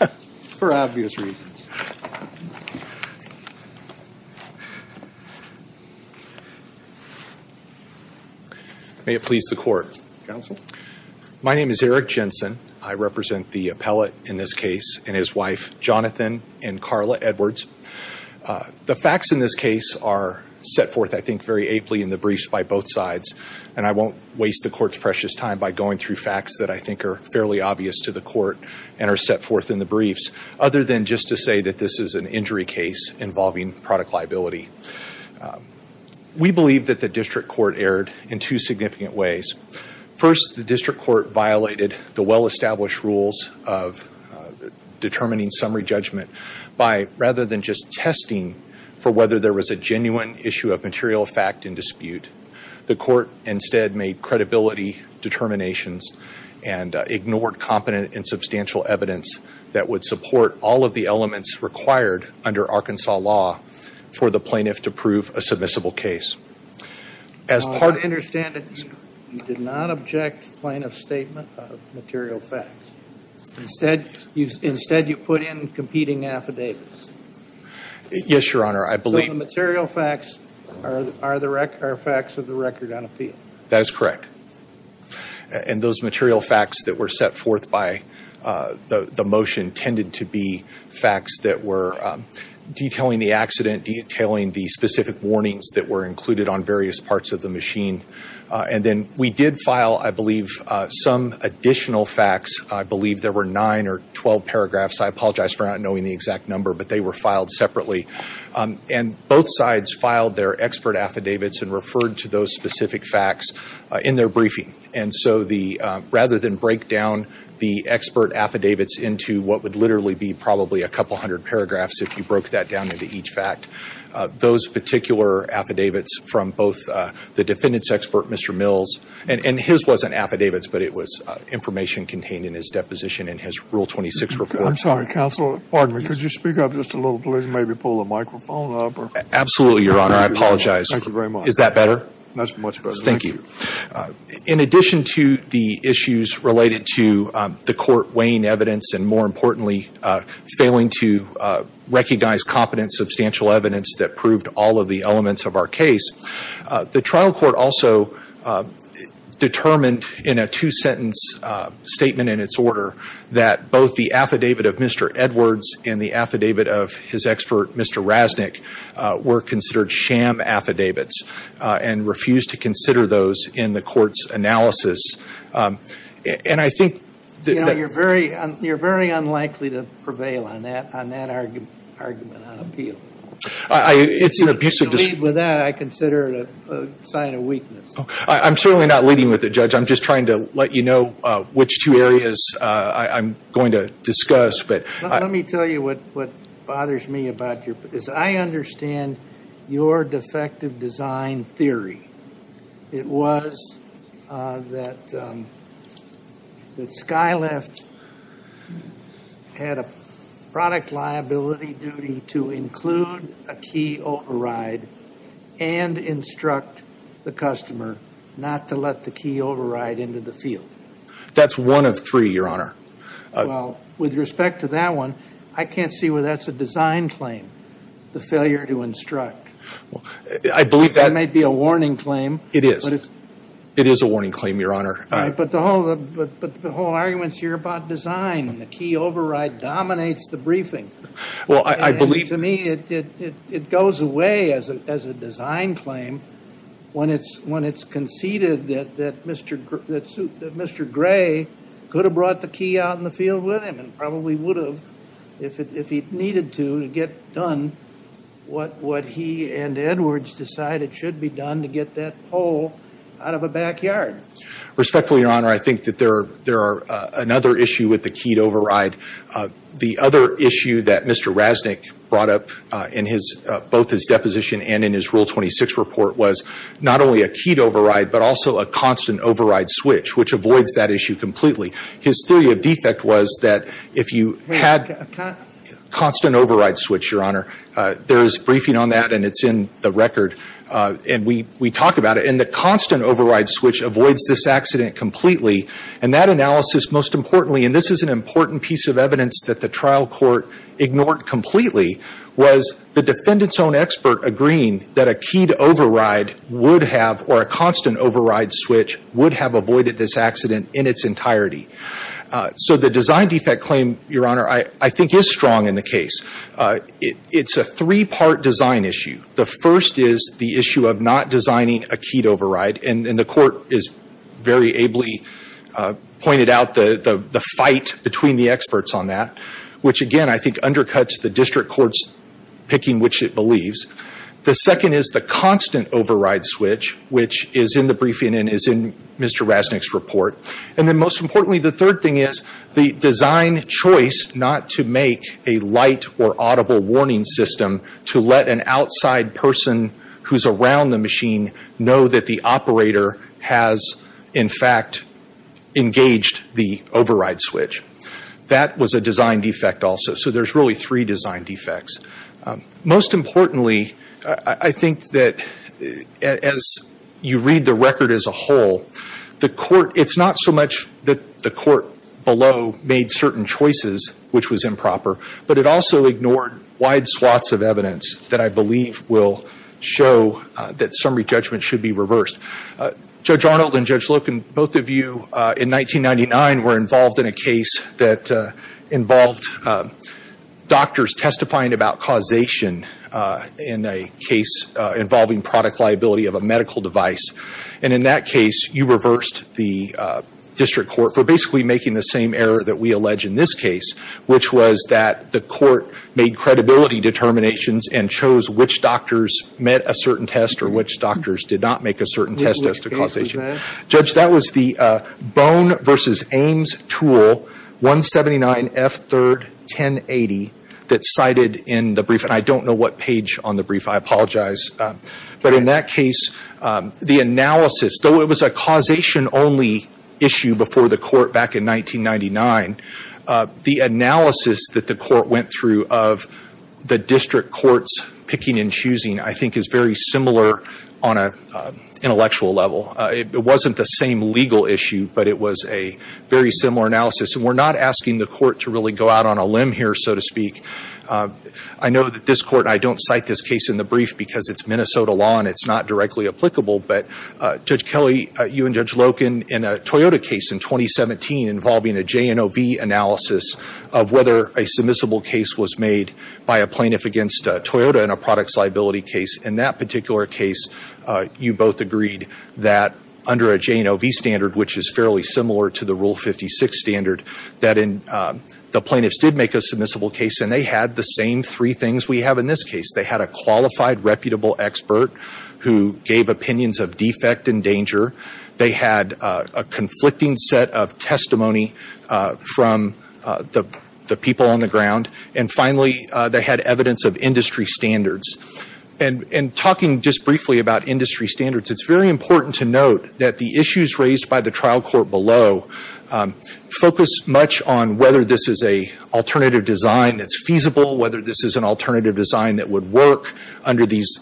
May it please the Court, Counsel. My name is Eric Jensen. I represent the appellate in this case and his wife, Jonathan and Carla Edwards. The facts in this case are set forth, I think, very apely in the briefs by both sides, and I won't waste the Court's precious time by going through facts that I think are fairly obvious to the Court and are set forth in the briefs, other than just to say that this is an injury case involving product liability. We believe that the District Court erred in two significant ways. First, the District Court violated the well-established rules of determining summary judgment by, rather than just testing for whether there was a genuine issue of material fact in dispute, the Court instead made credibility determinations and ignored competent and substantial evidence that would support all of the elements required under Arkansas law for the plaintiff to prove a submissible case. I understand that you did not object to the plaintiff's statement of material facts. Instead, you put in competing affidavits. Yes, Your Honor. So the material facts are facts of the record on appeal. That is correct. And those material facts that were set forth by the motion tended to be facts that were detailing the accident, detailing the specific warnings that were included on various parts of the machine. And then we did file, I believe, some additional facts. I believe there were 9 or 12 paragraphs. I apologize for not knowing the exact number, but they were filed separately. And both sides filed their expert affidavits and referred to those specific facts in their briefing. And so the, rather than break down the expert affidavits into what would literally be probably a couple hundred paragraphs if you broke that down into each fact, those particular affidavits from both the defendant's expert, Mr. Mills, and his wasn't affidavits, but it was information contained in his deposition in his Rule 26 report. I'm sorry, counsel. Pardon me. Could I apologize? Thank you very much. Is that better? That's much better. Thank you. In addition to the issues related to the court weighing evidence, and more importantly, failing to recognize competent substantial evidence that proved all of the elements of our case, the trial court also determined in a two-sentence statement in its order that both the affidavit of Mr. Edwards and the affidavit of his expert, Mr. Rasnick, were considered sham affidavits and refused to consider those in the court's analysis. And I think... You're very unlikely to prevail on that argument on appeal. It's an abusive... To lead with that, I consider it a sign of weakness. I'm certainly not leading with it, Judge. I'm just trying to let you know which two areas I'm going to discuss, but... Let me tell you what bothers me about your... Because I understand your defective design theory. It was that Skyleft had a product liability duty to include a key override and instruct the customer not to let the key override into the field. That's one of three, Your Honor. Well, with respect to that one, I can't see why that's a design claim, the failure to instruct. I believe that... That may be a warning claim. It is. It is a warning claim, Your Honor. But the whole argument's here about design and the key override dominates the briefing. Well, I believe... To me, it Gray could have brought the key out in the field with him and probably would have, if he needed to, to get done what he and Edwards decided should be done to get that pole out of a backyard. Respectfully, Your Honor, I think that there are another issue with the keyed override. The other issue that Mr. Rasnick brought up in his... Both his deposition and in his Rule 26 report was not only a keyed override, but also a constant override switch, which avoids that issue completely. His theory of defect was that if you had constant override switch, Your Honor, there is briefing on that and it's in the record and we talk about it. And the constant override switch avoids this accident completely. And that analysis, most importantly, and this is an important piece of evidence that the trial court ignored completely, was the defendant's own expert agreeing that a keyed override would have, or a constant override switch, would have avoided this accident in its entirety. So the design defect claim, Your Honor, I think is strong in the case. It's a three-part design issue. The first is the issue of not designing a keyed override. And the court is very ably pointed out the court's picking which it believes. The second is the constant override switch, which is in the briefing and is in Mr. Rasnick's report. And then most importantly, the third thing is the design choice not to make a light or audible warning system to let an outside person who's around the machine know that the operator has, in fact, engaged the override switch. That was a design defect also. So there's really three design defects. Most importantly, I think that as you read the record as a whole, the court, it's not so much that the court below made certain choices, which was improper, but it also ignored wide swaths of evidence that I believe will show that summary judgment should be reversed. Judge Arnold and Judge Loken, both of you in 1999 were involved in a case that involved doctors testifying about causation in a case involving product liability of a medical device. And in that case, you reversed the district court for basically making the same error that we allege in this case, which was that the court made credibility determinations and chose which doctors met a certain test or which doctors did not make a certain test as to causation. Judge, that was the Bone v. Ames Tool 179F31080 that's cited in the brief. And I don't know what page on the brief, I apologize. But in that case, the analysis, though it was a causation only issue before the court back in 1999, the analysis that the court went through of the district courts picking and choosing, I think is very similar on an intellectual level. It wasn't the same legal issue, but it was a very similar analysis. And we're not asking the court to really go out on a limb here, so to speak. I know that this court, and I don't cite this case in the brief because it's Minnesota law and it's not directly applicable, but Judge Kelly, you and Judge Loken in a Toyota case in 2017 involving a J&OV analysis of whether a submissible case was made by a plaintiff against Toyota in a product's liability case. In that particular case, you both agreed that under a J&OV standard, which is fairly similar to the Rule 56 standard, that the plaintiffs did make a submissible case and they had the same three things we have in this case. They had a qualified, reputable expert who gave opinions of defect and danger. They had a conflicting set of testimony from the people on the ground. And finally, they had evidence of industry standards. And talking just briefly about industry standards, it's very important to note that the issues raised by the trial court below focus much on whether this is an alternative design that's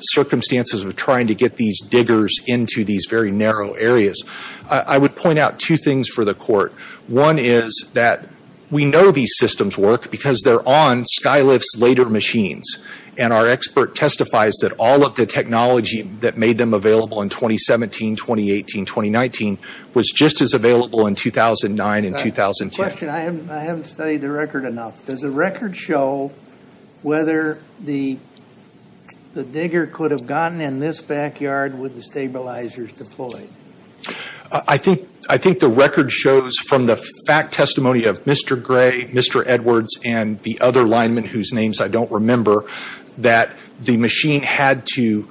circumstances of trying to get these diggers into these very narrow areas. I would point out two things for the court. One is that we know these systems work because they're on Skylift's later machines. And our expert testifies that all of the technology that made them available in 2017, 2018, 2019 was just as available in 2009 and 2010. I have a question. I haven't studied the record enough. Does the record show whether the digger could have gotten in this backyard with the stabilizers deployed? I think the record shows from the fact testimony of Mr. Gray, Mr. Edwards, and the other lineman whose names I don't remember, that the machine had to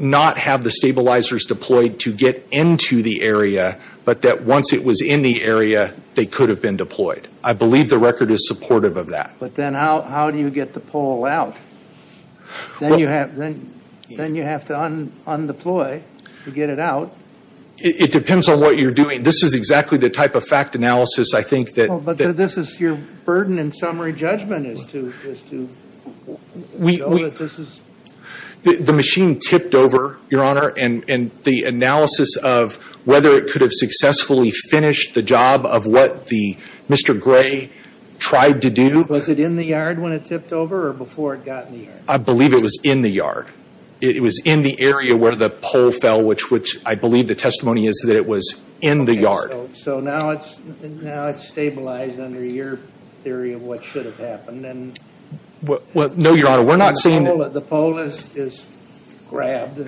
not have the stabilizers deployed to get into the area, but that once it was in the area, they could have been deployed. I believe the record is supportive of that. But then how do you get the pole out? Then you have to undeploy to get it out. It depends on what you're doing. This is exactly the type of fact analysis I think that But this is your burden in summary judgment is to show that this is The machine tipped over, Your Honor, and the analysis of whether it could have successfully finished the job of what the Mr. Gray tried to do Was it in the yard when it tipped over or before it got in the yard? I believe it was in the yard. It was in the area where the pole fell, which I believe the testimony is that it was in the yard. So now it's stabilized under your theory of what should have happened. No, Your Honor, we're not saying that The pole is grabbed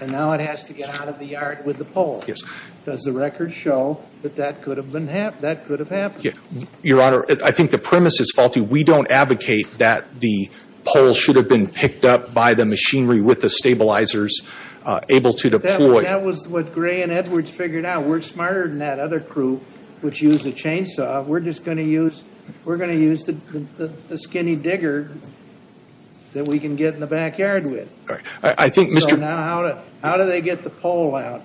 and now it has to get out of the yard with the pole. Does the record show that that could have happened? Your Honor, I think the premise is faulty. We don't advocate that the pole should have been picked up by the machinery with the stabilizers able to deploy. That was what Gray and Edwards figured out. We're smarter than that other crew which used a chainsaw. We're just going to use the skinny digger that we can get in the backyard with. So now how do they get the pole out?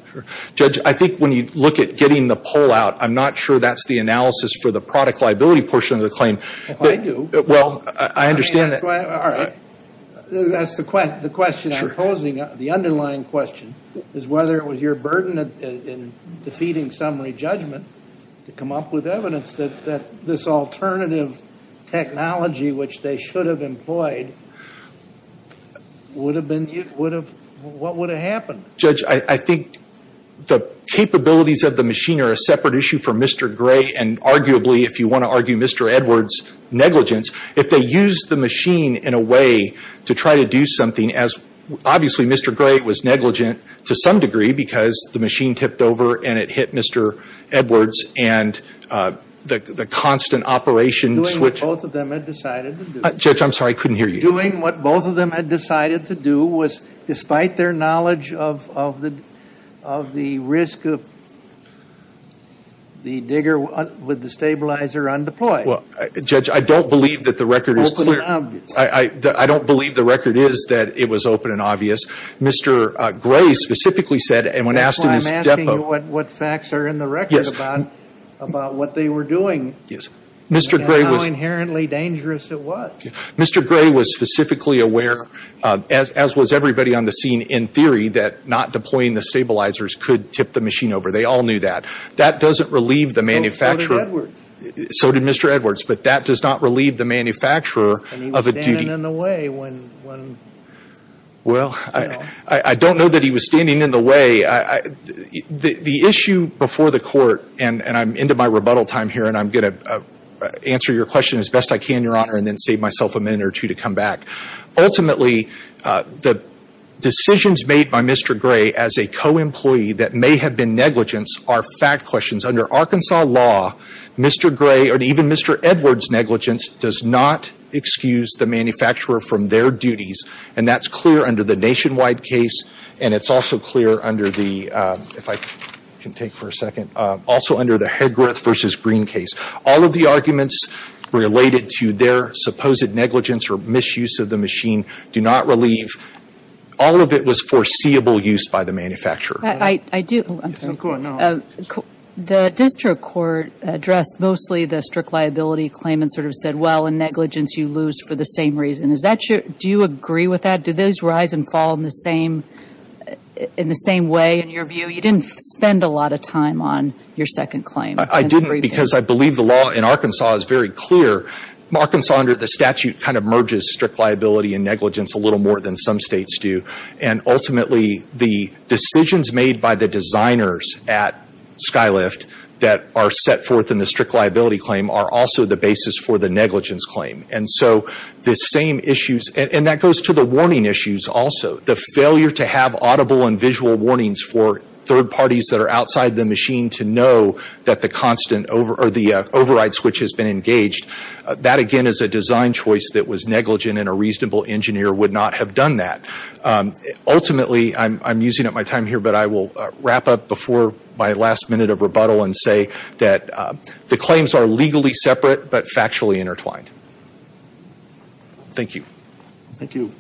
Judge, I think when you look at getting the pole out, I'm not sure that's the analysis for the product liability portion of the claim. Well, I do. Well, I understand that. All right. That's the question I'm posing. The underlying question is whether it was your burden in defeating summary judgment to come up with evidence that this alternative technology which they should have employed, what would have happened? Judge, I think the capabilities of the machine are a separate issue for Mr. Gray and arguably if you want to argue Mr. Edwards' negligence. If they used the machine in a way to try to do something as obviously Mr. Gray was negligent to some degree because the machine tipped over and it hit Mr. Edwards and the constant operation switch. Doing what both of them had decided to do. Judge, I'm sorry. I couldn't hear you. Doing what both of them had decided to do was despite their knowledge of the risk of the digger with the stabilizer undeployed. Well, Judge, I don't believe that the record is clear. I don't believe the record is that it was open and obvious. Mr. Gray specifically said and when asked in his depo. That's why I'm asking you what facts are in the record about what they were doing and how inherently dangerous it was. Mr. Gray was specifically aware as was everybody on the scene in theory that not deploying the stabilizers could tip the machine over. They all knew that. That doesn't relieve the manufacturer. So did Edwards. But that does not relieve the manufacturer of a duty. And he was standing in the way when... Well, I don't know that he was standing in the way. The issue before the court and I'm into my rebuttal time here and I'm going to answer your question as best I can, Your Honor, and then save myself a minute or two to come back. Ultimately, the decisions made by Mr. Gray as a co-employee that may have been negligence are fact questions. Under Arkansas law, Mr. Gray or even Mr. Edwards' negligence does not excuse the manufacturer from their duties. And that's clear under the Nationwide case and it's also clear under the, if I can take for a second, also under the Hedroth v. Green case. All of the arguments related to their supposed negligence or misuse of the machine do not relieve. All of it was foreseeable use by the manufacturer. I do. I'm sorry. Go on now. The district court addressed mostly the strict liability claim and sort of said, well, in negligence you lose for the same reason. Do you agree with that? Do those rise and fall in the same way in your view? You didn't spend a lot of time on your second claim. I didn't because I believe the law in Arkansas is very clear. Arkansas under the statute kind of merges strict liability and negligence a little more than some states do. And ultimately the decisions made by the designers at Skylift that are set forth in the strict liability claim are also the basis for the negligence claim. And so the same issues, and that goes to the warning issues also. The failure to have audible and visual warnings for third parties that are outside the machine to know that the override switch has been engaged, that again is a design choice that a reasonable engineer would not have done that. Ultimately, I'm using up my time here, but I will wrap up before my last minute of rebuttal and say that the claims are legally separate but factually intertwined. Thank you. Thank you.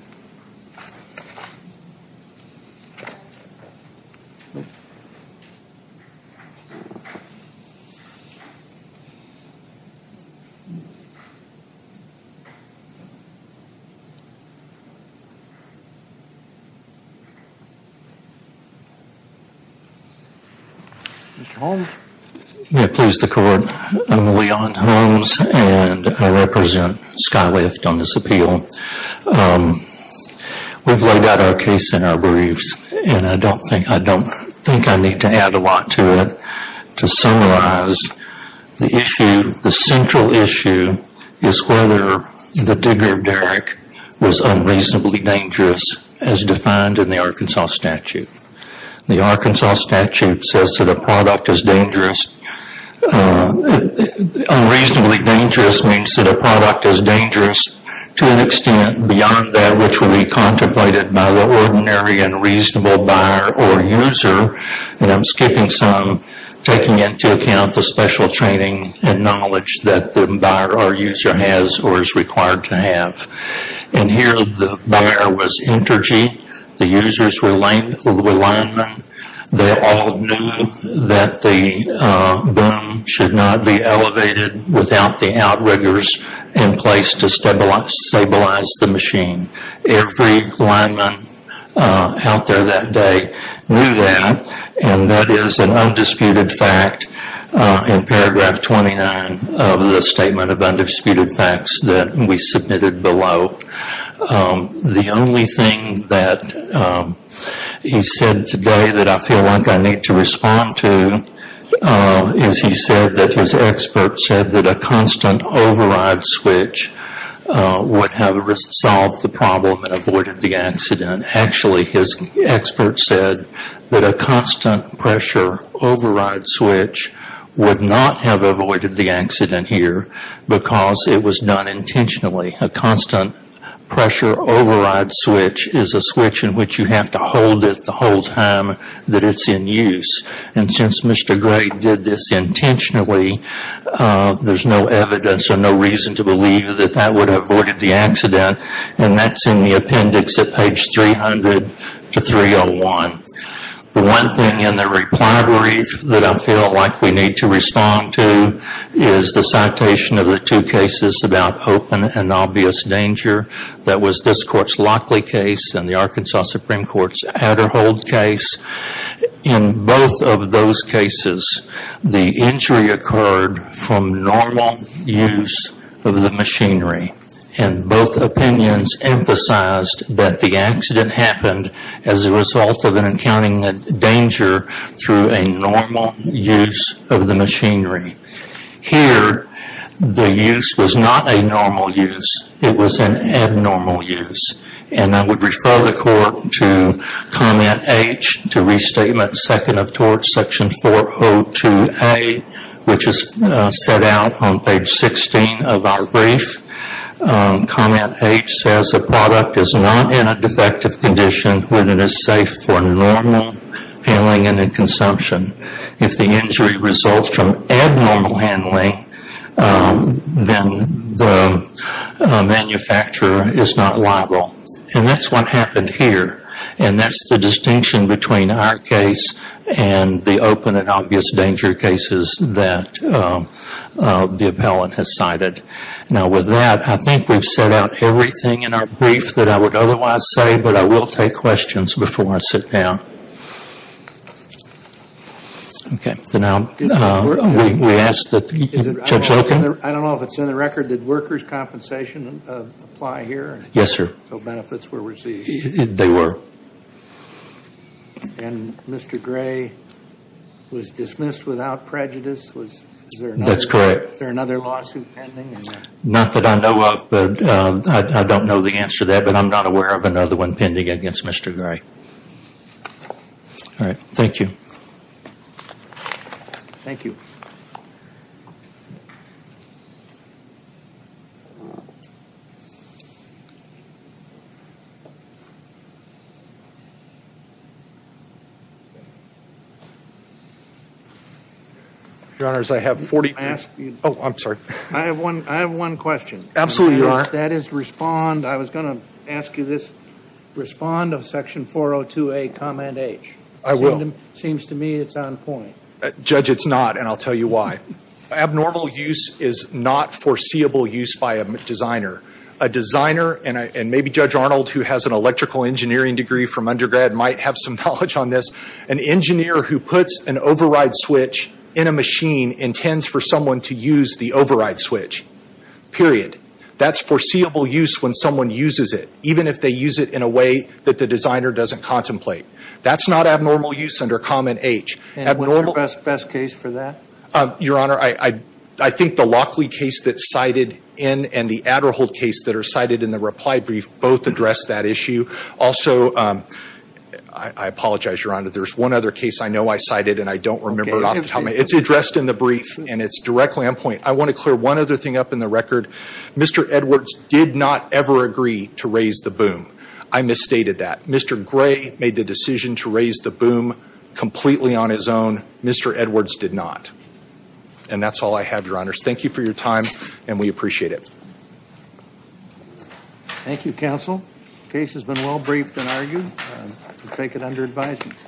Mr. Holmes? May it please the court. I'm Leon Holmes and I represent Skylift on this appeal. We've laid out our case in our briefs and I don't think I need to add a lot to it to summarize the issue. The central issue is whether the Digger of Derrick was unreasonably dangerous as defined in the Arkansas statute. The Arkansas statute says that a product is dangerous, unreasonably dangerous means that a product is dangerous to an extent beyond that which will be contemplated by the ordinary and reasonable buyer or user, and I'm skipping some, taking into account the special training and knowledge that the buyer or user has or is required to have. In here, the buyer was energy, the users were alignment, they all knew that the boom should not be elevated without the outriggers in place to stabilize the machine. Every lineman out there that day knew that and that is an undisputed fact in paragraph 29 of the statement of undisputed facts that we submitted below. The only thing that he said today that I feel like I need to respond to is he said that his expert said that a constant override switch would have solved the problem and avoided the accident. Actually his expert said that a constant pressure override switch would not have avoided the accident here because it was done intentionally. A constant pressure override switch is a switch in which you have to hold it the whole time that it's in use. And since Mr. Gray did this intentionally, there's no evidence or no reason to believe that that would have avoided the accident, and that's in the appendix at page 300-301. The one thing in the reply brief that I feel like we need to respond to is the citation of the two cases about open and obvious danger. That was this court's Lockley case and the Arkansas Supreme Court's Aderhold case. In both of those cases, the injury occurred from normal use of the machinery. And both opinions emphasized that the accident happened as a result of an accounting danger through a normal use of the machinery. Here the use was not a normal use. It was an abnormal use. And I would refer the court to comment H, to restatement second of tort, section 402A, which is set out on page 16 of our brief. Comment H says the product is not in a defective condition when it is safe for normal handling and consumption. If the injury results from abnormal handling, then the manufacturer is not liable. And that's what happened here. And that's the distinction between our case and the open and obvious danger cases that the appellant has cited. Now with that, I think we've set out everything in our brief that I would otherwise say, but I will take questions before I sit down. Okay. So now we ask that Judge Loken. I don't know if it's in the record. Did workers' compensation apply here? Yes, sir. So benefits were received. They were. And Mr. Gray was dismissed without prejudice? That's correct. Is there another lawsuit pending? Not that I know of. But I don't know the answer to that, but I'm not aware of another one pending against Mr. Gray. All right. Thank you. Thank you. Your Honors, I have 40. I asked you. Oh, I'm sorry. I have one question. Absolutely, Your Honor. That is respond. I was going to ask you this. Respond of section 402A, comment H. I will. Seems to me it's on point. Judge, it's not, and I'll tell you why. Abnormal use is not foreseeable use by a designer. A designer, and maybe Judge Arnold, who has an electrical engineering degree from undergrad, might have some knowledge on this. An engineer who puts an override switch in a machine intends for someone to use the override switch. Period. That's foreseeable use when someone uses it, even if they use it in a way that the designer doesn't contemplate. That's not abnormal use under comment H. And what's the best case for that? Your Honor, I think the Lockley case that's cited in and the Adderhall case that are cited in the reply brief both address that issue. Also, I apologize, Your Honor, there's one other case I know I cited and I don't remember off the top of my head. It's addressed in the brief, and it's directly on point. I want to clear one other thing up in the record. Mr. Edwards did not ever agree to raise the boom. I misstated that. Mr. Gray made the decision to raise the boom completely on his own. Mr. Edwards did not. And that's all I have, Your Honors. Thank you for your time, and we appreciate it. Thank you, counsel. Case has been well briefed and argued. We take it under advisement.